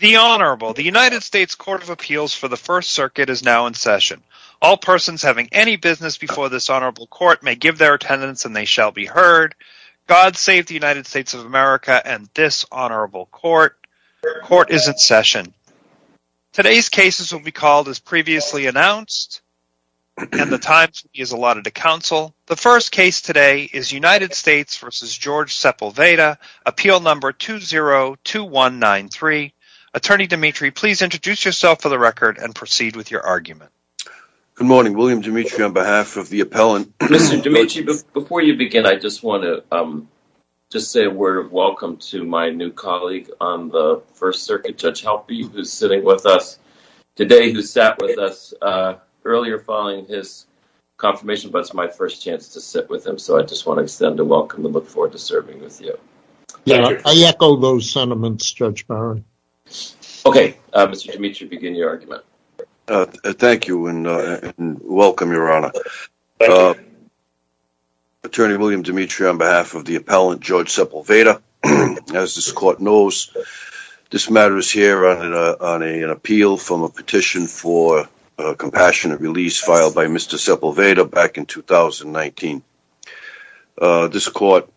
The Honorable, the United States Court of Appeals for the First Circuit is now in session. All persons having any business before this Honorable Court may give their attendance and they shall be heard. God save the United States of America and this Honorable Court. Court is in session. Today's cases will be called as previously announced and the time is allotted to counsel. The first case today is United States v. George Sepulveda, appeal number 202193. Attorney Dimitri, please introduce yourself for the record and proceed with your argument. Good morning, William Dimitri on behalf of the appellant. Mr. Dimitri, before you begin, I just want to say a word of welcome to my new colleague on the First Circuit, Judge Halpe, who is sitting with us today, who sat with us earlier following his confirmation, but it's my first chance to sit with him. So I just want to extend a welcome and look forward to serving with you. I echo those sentiments, Judge Barron. Okay, Mr. Dimitri, begin your argument. Thank you and welcome, Your Honor. Attorney William Dimitri, on behalf of the appellant, Judge Sepulveda, as this court knows, this matter is here on an appeal from a petition for a compassionate release filed by Mr. Sepulveda back in 2019. This court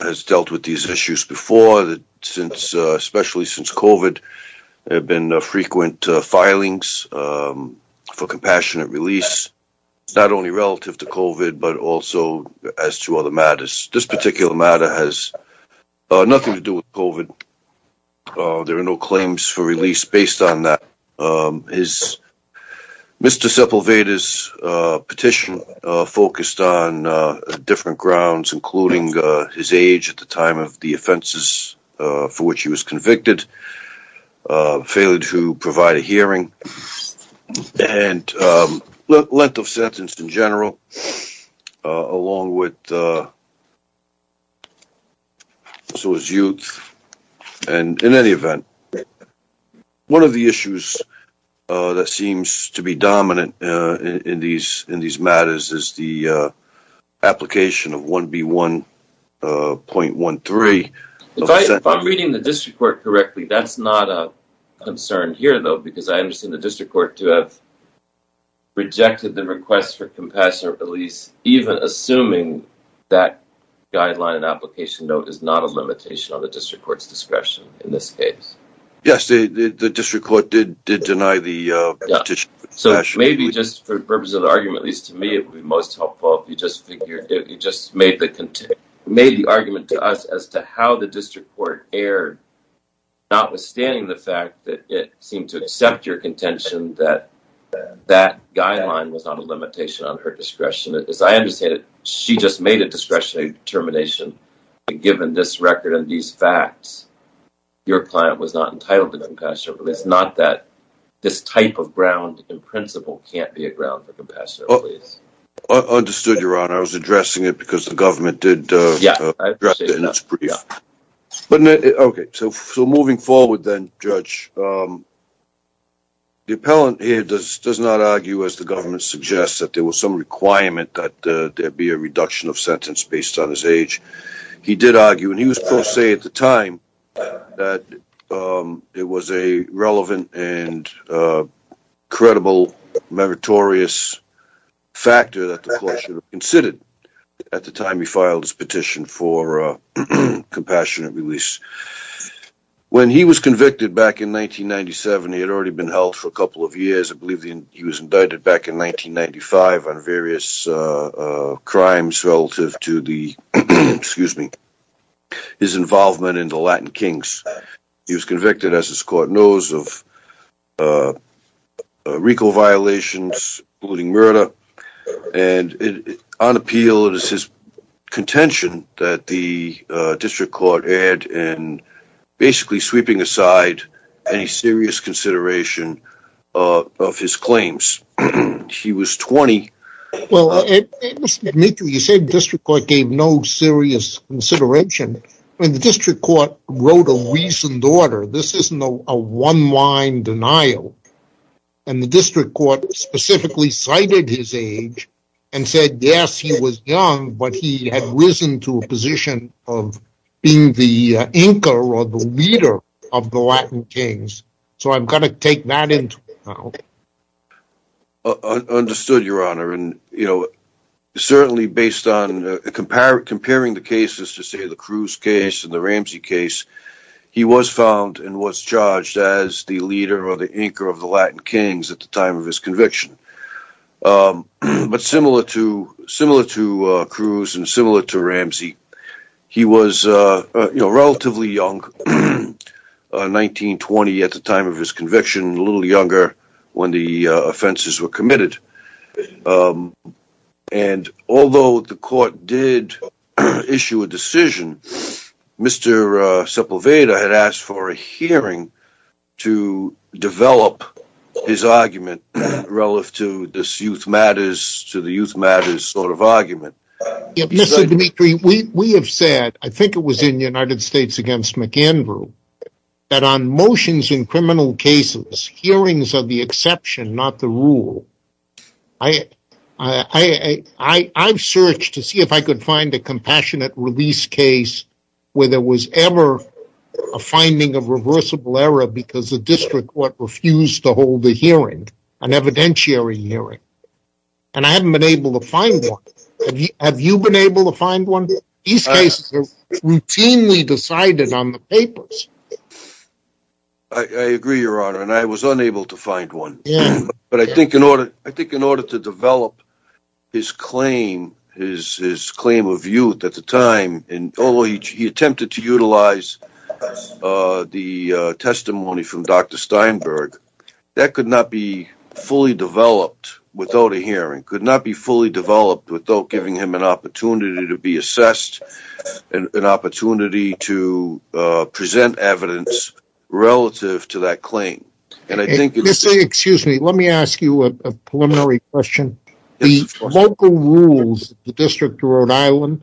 has dealt with these issues before, especially since COVID, there have been frequent filings for compassionate release, not only relative to COVID, but also as to other matters. This particular matter has nothing to do with COVID. There are no claims for release based on that. Mr. Sepulveda's petition focused on different grounds, including his age at the time of the offenses for which he was convicted, failure to provide a hearing, and length of sentence in general, along with his youth. In any event, one of the issues that seems to be dominant in these matters is the application of 1B1.13. If I'm reading the district court correctly, that's not a concern here, though, because I understand the district court to have rejected the request for compassionate release, even assuming that guideline and application note is not a limitation on the district court's discretion in this case. Yes, the district court did deny the petition. So maybe just for the purpose of the argument, at least to me, it would be most helpful if you just made the argument to us as to how the district court erred, notwithstanding the fact that it seemed to accept your contention that that guideline was not a limitation on her discretion. As I understand it, she just made a discretionary determination, given this record and these facts, your client was not entitled to compassionate release, not that this type of ground in principle can't be a ground for compassionate release. I understood, Your Honor. I was addressing it because the government did address it in its brief. Okay, so moving forward then, Judge, the appellant here does not argue, as the government suggests, that there was some requirement that there be a reduction of sentence based on his age. He did argue, and he was pro se at the time, that it was a relevant and credible meritorious factor that the court should have considered at the time he filed his petition for compassionate release. When he was convicted back in 1997, he had already been held for a couple of years. I believe he was indicted back in 1995 on various crimes relative to his involvement in the Latin Kings. He was convicted, as this court knows, of recall violations, including murder. On appeal, it is his contention that the district court had in basically sweeping aside any serious consideration of his claims. He was 20. Well, Mr. D'Amico, you said district court gave no serious consideration. The district court wrote a reasoned order. This isn't a one-line denial, and the district court specifically cited his age and said, yes, he was young, but he had risen to a position of being the anchor or the leader of the Latin Kings. So I'm going to take that into account. Understood, Your Honor. Certainly, based on comparing the cases, to say the Cruz case and the Ramsey case, he was found and was charged as the leader or the anchor of the Latin Kings at the time of his conviction. But similar to Cruz and similar to Ramsey, he was relatively young, 19, 20 at the time of his conviction, a little younger when the offenses were committed. And although the court did issue a decision, Mr. Sepulveda had asked for a hearing to develop his argument relative to this youth matters, to the youth matters sort of argument. Mr. Dimitri, we have said, I think it was in the United States against McAndrew, that on motions in criminal cases, hearings are the exception, not the rule. I've searched to see if I could find a compassionate release case where there was ever a finding of reversible error because the district court refused to hold a hearing, an evidentiary hearing. And I haven't been able to find one. Have you been able to find one? These cases are routinely decided on the papers. I agree, Your Honor, and I was unable to find one. But I think in order to develop his claim of youth at the time, although he attempted to utilize the testimony from Dr. Steinberg, that could not be fully developed without a hearing, could not be fully developed without giving him an opportunity to be assessed, an opportunity to present evidence relative to that claim. Excuse me, let me ask you a preliminary question. The local rules of the District of Rhode Island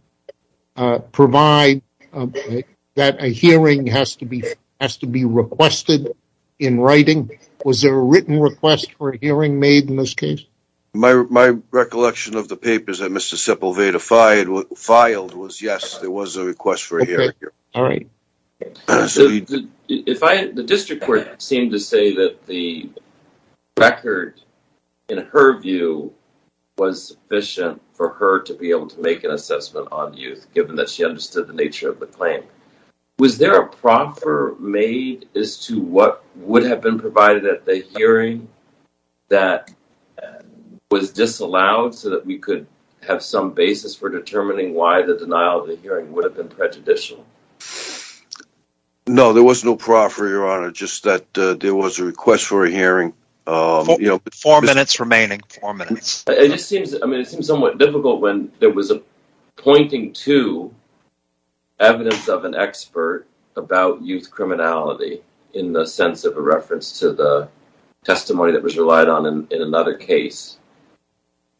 provide that a hearing has to be requested in writing. Was there a written request for a hearing made in this case? My recollection of the papers that Mr. Sepulveda filed was, yes, there was a request for a hearing. All right. The district court seemed to say that the record, in her view, was sufficient for her to be able to make an assessment on youth, given that she understood the nature of the claim. Was there a proffer made as to what would have been provided at the hearing that was disallowed so that we could have some basis for determining why the denial of the hearing would have been prejudicial? No, there was no proffer, Your Honor, just that there was a request for a hearing. Four minutes remaining, four minutes. It just seems somewhat difficult when there was a pointing to evidence of an expert about youth criminality in the sense of a reference to the testimony that was relied on in another case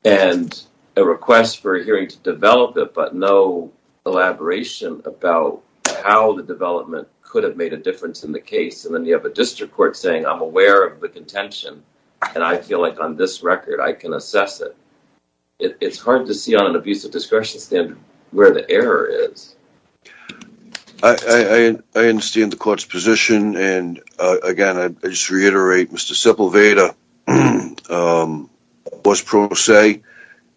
and a request for a hearing to develop it, but no elaboration about how the development could have made a difference in the case. And then you have a district court saying, I'm aware of the contention, and I feel like on this record I can assess it. It's hard to see on an abusive discretion standard where the error is. I understand the court's position. And, again, I just reiterate Mr. Sepulveda was pro se.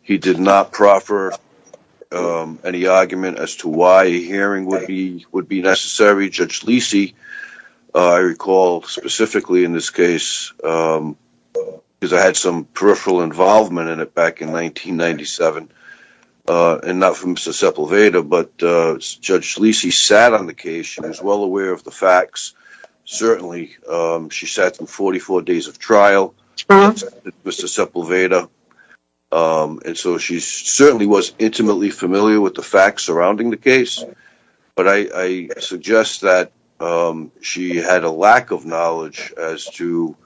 He did not proffer any argument as to why a hearing would be necessary. I recall specifically in this case, because I had some peripheral involvement in it back in 1997, and not from Mr. Sepulveda, but Judge Schlici sat on the case. She was well aware of the facts. Certainly she sat for 44 days of trial, Mr. Sepulveda, and so she certainly was intimately familiar with the facts surrounding the case. But I suggest that she had a lack of knowledge as to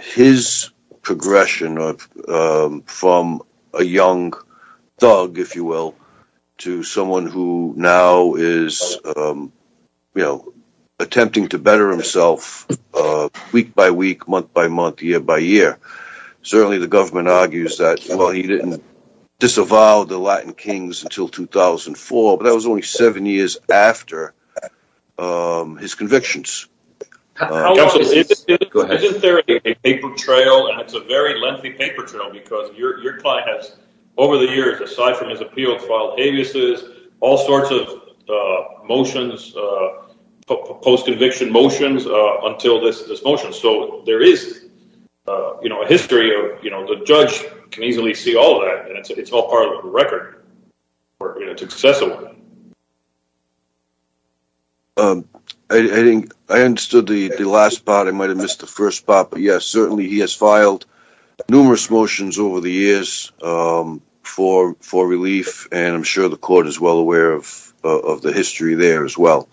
his progression from a young thug, if you will, to someone who now is attempting to better himself week by week, month by month, year by year. Certainly the government argues that, well, he didn't disavow the Latin kings until 2004, but that was only seven years after his convictions. Counsel, isn't there a paper trail, and it's a very lengthy paper trail, because your client has, over the years, aside from his appeals, filed abuses, all sorts of motions, post-conviction motions, until this motion. So there is a history. The judge can easily see all that, and it's all part of the record. It's accessible. I understood the last part. I might have missed the first part. Yes, certainly he has filed numerous motions over the years for relief, and I'm sure the court is well aware of the history there as well.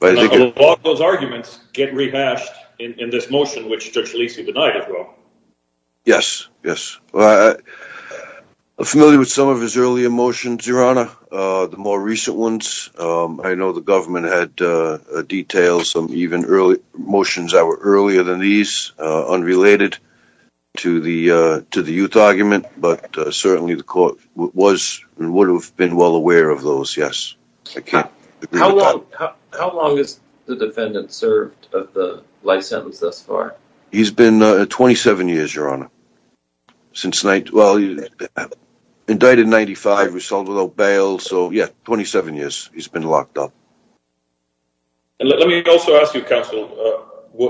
All those arguments get rehashed in this motion, which Judge Lisi denied as well. Yes, yes. I'm familiar with some of his earlier motions, Your Honor, the more recent ones. I know the government had detailed some motions that were earlier than these, unrelated to the youth argument, but certainly the court was and would have been well aware of those, yes. How long has the defendant served the life sentence thus far? He's been 27 years, Your Honor. Well, he's been indicted in 1995, resolved without bail. So, yes, 27 years he's been locked up. Let me also ask you, Counsel,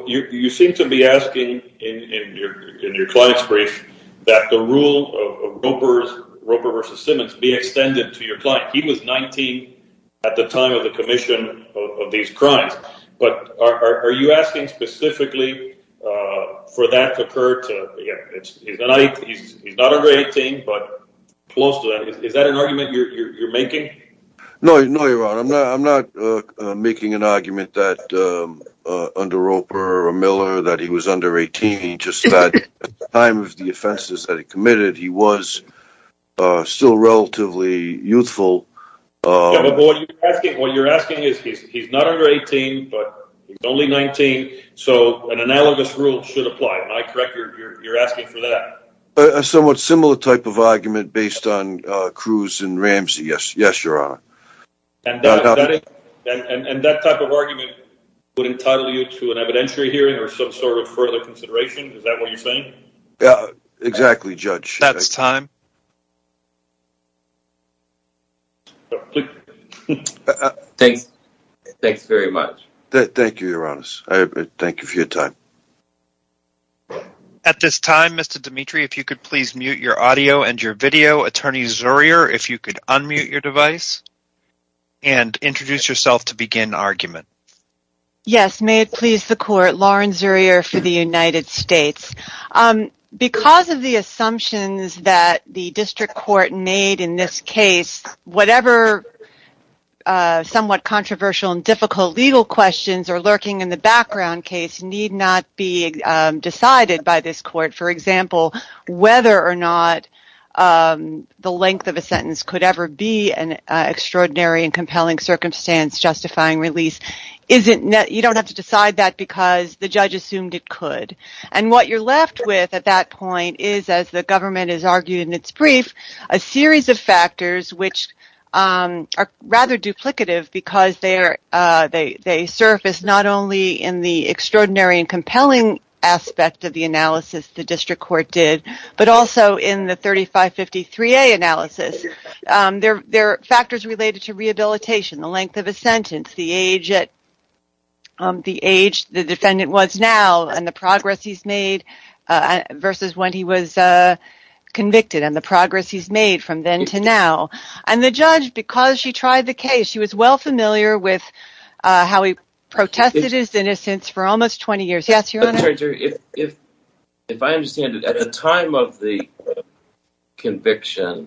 you seem to be asking in your client's brief that the rule of Roper v. Simmons be extended to your client. He was 19 at the time of the commission of these crimes. But are you asking specifically for that to occur? He's not under 18, but close to that. Is that an argument you're making? No, Your Honor, I'm not making an argument under Roper or Miller that he was under 18. At the time of the offenses that he committed, he was still relatively youthful. What you're asking is he's not under 18, but he's only 19, so an analogous rule should apply. Am I correct? You're asking for that? A somewhat similar type of argument based on Cruz and Ramsey, yes, Your Honor. And that type of argument would entitle you to an evidentiary hearing or some sort of further consideration? Is that what you're saying? Exactly, Judge. That's time. Thanks. Thanks very much. Thank you, Your Honor. Thank you for your time. At this time, Mr. Dimitri, if you could please mute your audio and your video. Attorney Zurier, if you could unmute your device and introduce yourself to begin argument. Yes, may it please the Court. Lauren Zurier for the United States. Because of the assumptions that the District Court made in this case, whatever somewhat controversial and difficult legal questions are lurking in the background case need not be decided by this Court. For example, whether or not the length of a sentence could ever be an extraordinary and compelling circumstance justifying release, you don't have to decide that because the judge assumed it could. And what you're left with at that point is, as the government has argued in its brief, a series of factors which are rather duplicative because they surface not only in the extraordinary and compelling aspect of the analysis the District Court did, but also in the 3553A analysis. They're factors related to rehabilitation, the length of a sentence, the age the defendant was now and the progress he's made versus when he was convicted and the progress he's made from then to now. And the judge, because she tried the case, she was well familiar with how he protested his innocence for almost 20 years. Yes, Your Honor? Attorney Zurier, if I understand it, at the time of the conviction and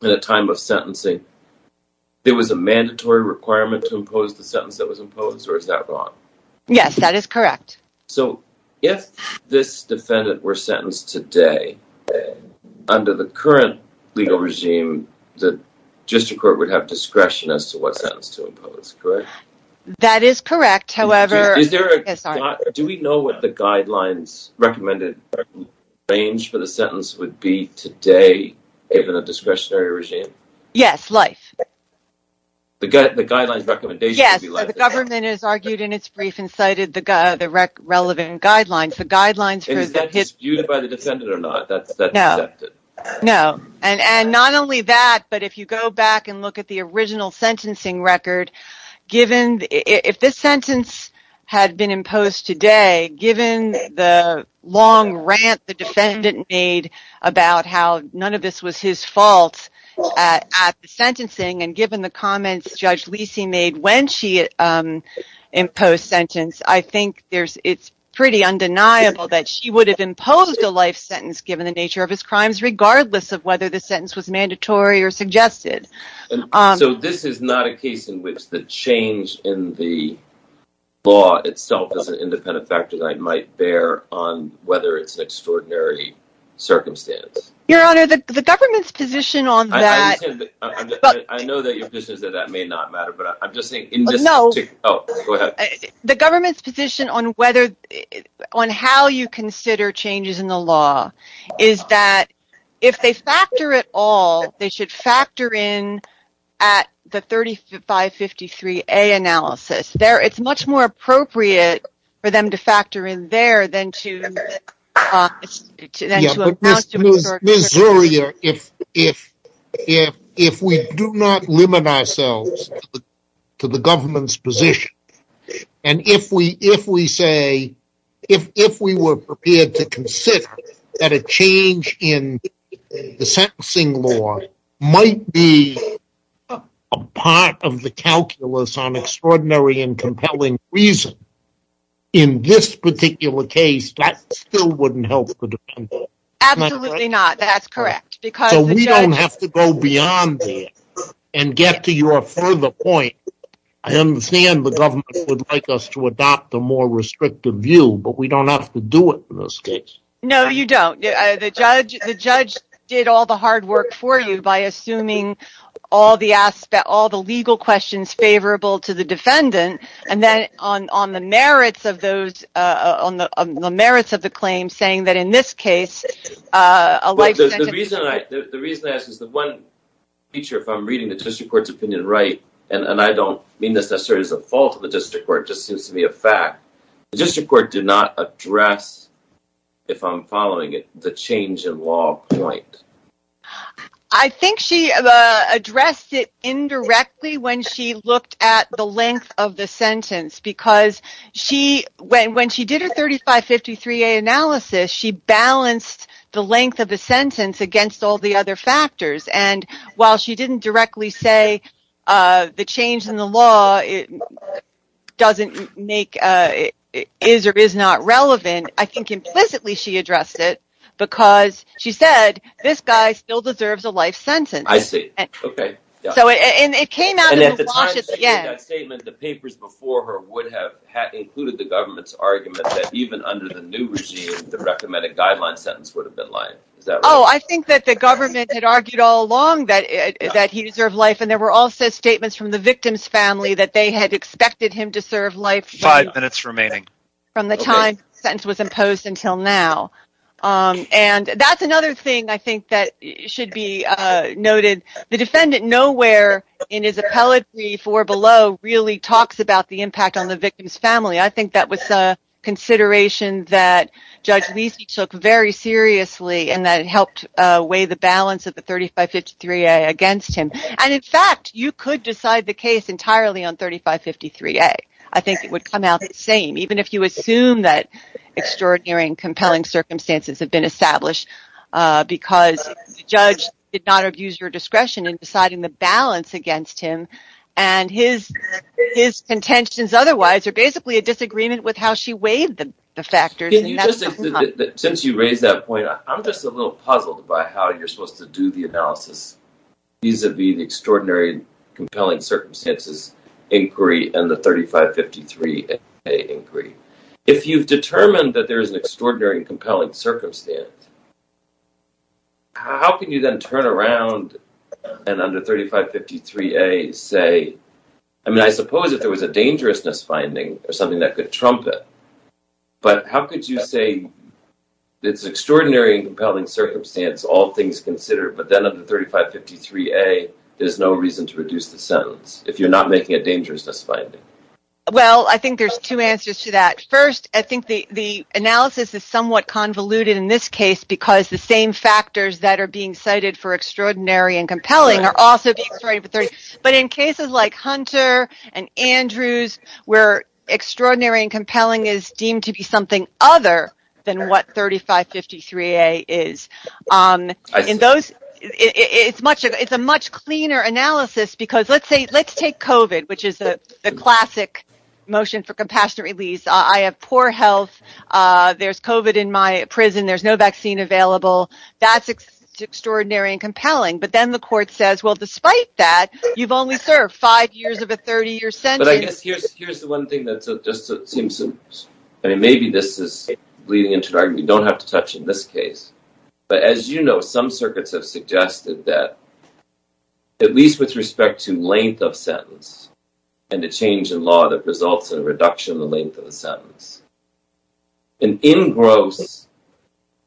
the time of sentencing, there was a mandatory requirement to impose the sentence that was imposed, or is that wrong? Yes, that is correct. So, if this defendant were sentenced today, under the current legal regime, the District Court would have discretion as to what sentence to impose, correct? That is correct, however... Do we know what the guidelines recommended range for the sentence would be today given a discretionary regime? Yes, life. The guidelines recommendation would be life? The government has argued in its brief and cited the relevant guidelines. And is that disputed by the defendant or not? No, and not only that, but if you go back and look at the original sentencing record, if this sentence had been imposed today, given the long rant the defendant made about how none of this was his fault at the sentencing and given the comments Judge Lisi made when she imposed the sentence, I think it's pretty undeniable that she would have imposed a life sentence given the nature of his crimes, regardless of whether the sentence was mandatory or suggested. So, this is not a case in which the change in the law itself is an independent factor that I might bear on whether it's an extraordinary circumstance? Your Honor, the government's position on that... I know that your position is that that may not matter, but I'm just saying... No. Oh, go ahead. The government's position on whether, on how you consider changes in the law is that if they factor it all, they should factor in at the 3553A analysis. It's much more appropriate for them to factor in there than to... Ms. Zuria, if we do not limit ourselves to the government's position, and if we say, if we were prepared to consider that a change in the sentencing law might be a part of the calculus on extraordinary and compelling reason, in this particular case, that still wouldn't help the defendant. Absolutely not. That's correct. So, we don't have to go beyond that and get to your further point. I understand the government would like us to adopt a more restrictive view, but we don't have to do it in this case. No, you don't. The judge did all the hard work for you by assuming all the legal questions favorable to the defendant, and then on the merits of the claim, saying that in this case, a life sentence... The reason I ask is the one feature, if I'm reading the district court's opinion right, and I don't mean this necessarily as a fault of the district court, it just seems to be a fact, the district court did not address, if I'm following it, the change in law point. I think she addressed it indirectly when she looked at the length of the sentence, because when she did her 3553A analysis, she balanced the length of the sentence against all the other factors, and while she didn't directly say the change in the law is or is not relevant, I think implicitly she addressed it because she said, this guy still deserves a life sentence. I see, okay. And it came out of the wash at the end. And at the time she made that statement, the papers before her would have included the government's argument that even under the new regime, the recommended guideline sentence would have been life. Oh, I think that the government had argued all along that he deserved life, and there were also statements from the victim's family that they had expected him to serve life... Five minutes remaining. ...from the time the sentence was imposed until now. And that's another thing I think that should be noted. The defendant nowhere in his appellate brief or below really talks about the impact on the victim's family. I think that was a consideration that Judge Lisi took very seriously and that it helped weigh the balance of the 3553A against him. And, in fact, you could decide the case entirely on 3553A. I think it would come out the same. Even if you assume that extraordinary and compelling circumstances have been established because the judge did not abuse your discretion in deciding the balance against him and his contentions otherwise are basically a disagreement with how she weighed the factors. Since you raised that point, I'm just a little puzzled by how you're supposed to do the analysis vis-à-vis the extraordinary and compelling circumstances inquiry and the 3553A inquiry. If you've determined that there is an extraordinary and compelling circumstance, how can you then turn around and under 3553A say... I mean, I suppose if there was a dangerousness finding or something that could trump it, but how could you say it's an extraordinary and compelling circumstance, all things considered, but then under 3553A there's no reason to reduce the sentence if you're not making a dangerousness finding? Well, I think there's two answers to that. First, I think the analysis is somewhat convoluted in this case because the same factors that are being cited for extraordinary and compelling are also being cited. But in cases like Hunter and Andrews, where extraordinary and compelling is deemed to be something other than what 3553A is, it's a much cleaner analysis because let's take COVID, which is a classic motion for compassionate release. I have poor health. There's COVID in my prison. There's no vaccine available. That's extraordinary and compelling. But then the court says, well, despite that, you've only served five years of a 30-year sentence. But I guess here's the one thing that just seems... I mean, maybe this is leading into an argument you don't have to touch in this case. But as you know, some circuits have suggested that at least with respect to length of sentence and the change in law that results in a reduction in the length of the sentence, an engrossed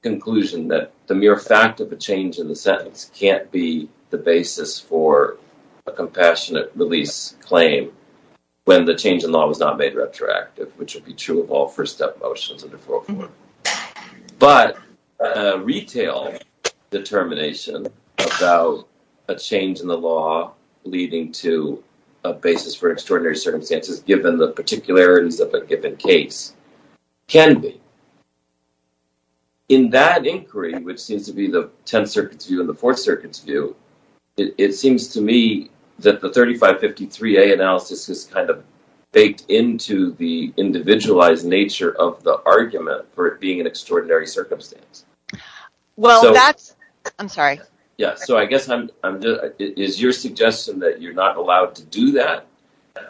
conclusion that the mere fact of a change in the sentence can't be the basis for a compassionate release claim when the change in law was not made retroactive, which would be true of all first step motions under 404. But retail determination about a change in the law leading to a basis for extraordinary circumstances, given the particularities of a given case, can be. In that inquiry, which seems to be the Tenth Circuit's view and the Fourth Circuit's view, it seems to me that the 3553A analysis is kind of baked into the individualized nature of the argument for it being an extraordinary circumstance. Well, that's... I'm sorry. Yeah, so I guess I'm... Is your suggestion that you're not allowed to do that?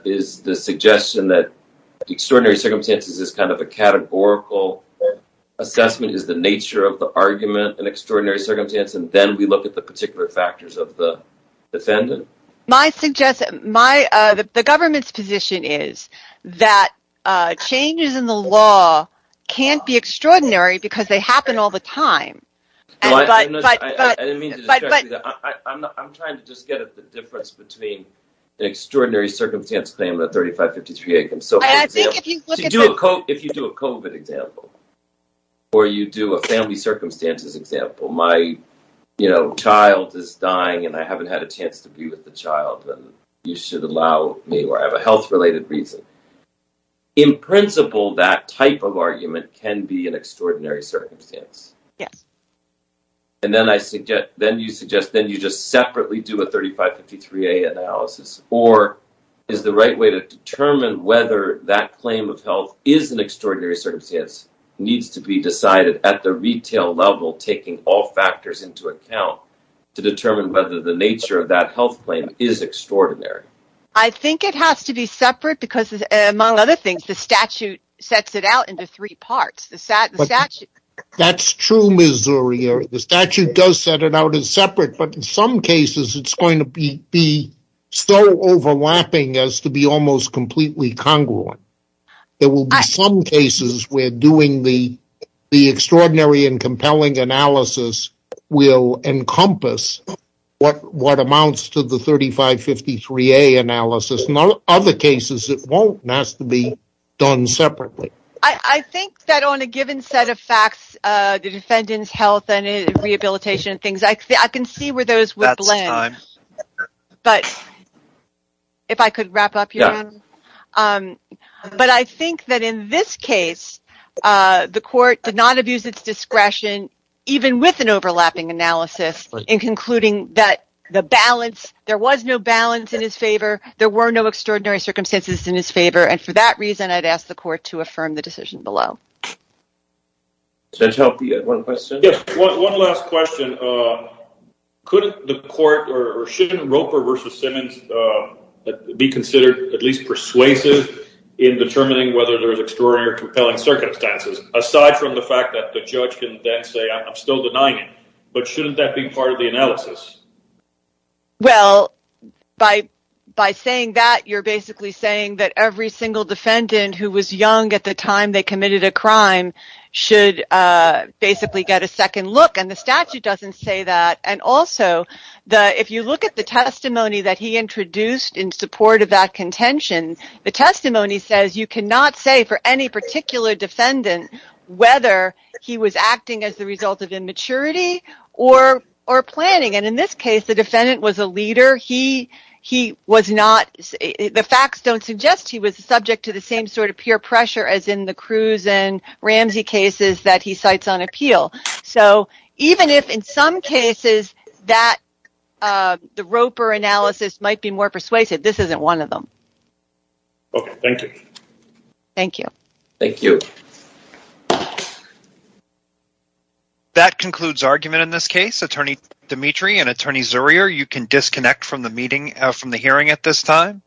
Is the suggestion that extraordinary circumstances is kind of a categorical assessment? Is the nature of the argument an extraordinary circumstance? And then we look at the particular factors of the defendant? My suggestion... The government's position is that changes in the law can't be extraordinary because they happen all the time. I didn't mean to distract you. I'm trying to just get at the difference between an extraordinary circumstance claim and a 3553A claim. So if you do a COVID example or you do a family circumstances example, my child is dying and I haven't had a chance to be with the child, and you should allow me, or I have a health-related reason. In principle, that type of argument can be an extraordinary circumstance. Yes. And then you suggest then you just separately do a 3553A analysis, or is the right way to determine whether that claim of health is an extraordinary circumstance needs to be decided at the retail level, taking all factors into account, to determine whether the nature of that health claim is extraordinary? I think it has to be separate because, among other things, the statute sets it out into three parts. That's true, Ms. Zuri. The statute does set it out as separate, but in some cases it's going to be so overlapping as to be almost completely congruent. There will be some cases where doing the extraordinary and compelling analysis will encompass what amounts to the 3553A analysis. In other cases, it won't. It has to be done separately. I think that on a given set of facts, the defendant's health and rehabilitation and things, I can see where those would blend. That's time. But if I could wrap up here. But I think that in this case, the court did not abuse its discretion, even with an overlapping analysis, in concluding that the balance, there was no balance in his favor, there were no extraordinary circumstances in his favor, and for that reason I'd ask the court to affirm the decision below. Does that help? You had one question? Yes, one last question. Couldn't the court, or shouldn't Roper v. Simmons be considered at least persuasive in determining whether there's extraordinary or compelling circumstances, aside from the fact that the judge can then say, I'm still denying it? But shouldn't that be part of the analysis? Well, by saying that, you're basically saying that every single defendant who was young at the time they committed a crime should basically get a second look. And the statute doesn't say that. And also, if you look at the testimony that he introduced in support of that contention, the testimony says you cannot say for any particular defendant whether he was acting as the result of immaturity or planning. And in this case, the defendant was a leader. The facts don't suggest he was subject to the same sort of peer pressure as in the Cruz and Ramsey cases that he cites on appeal. So even if in some cases the Roper analysis might be more persuasive, this isn't one of them. Okay, thank you. Thank you. Thank you. That concludes argument in this case. Attorney Dimitri and Attorney Zurier, you can disconnect from the hearing at this time.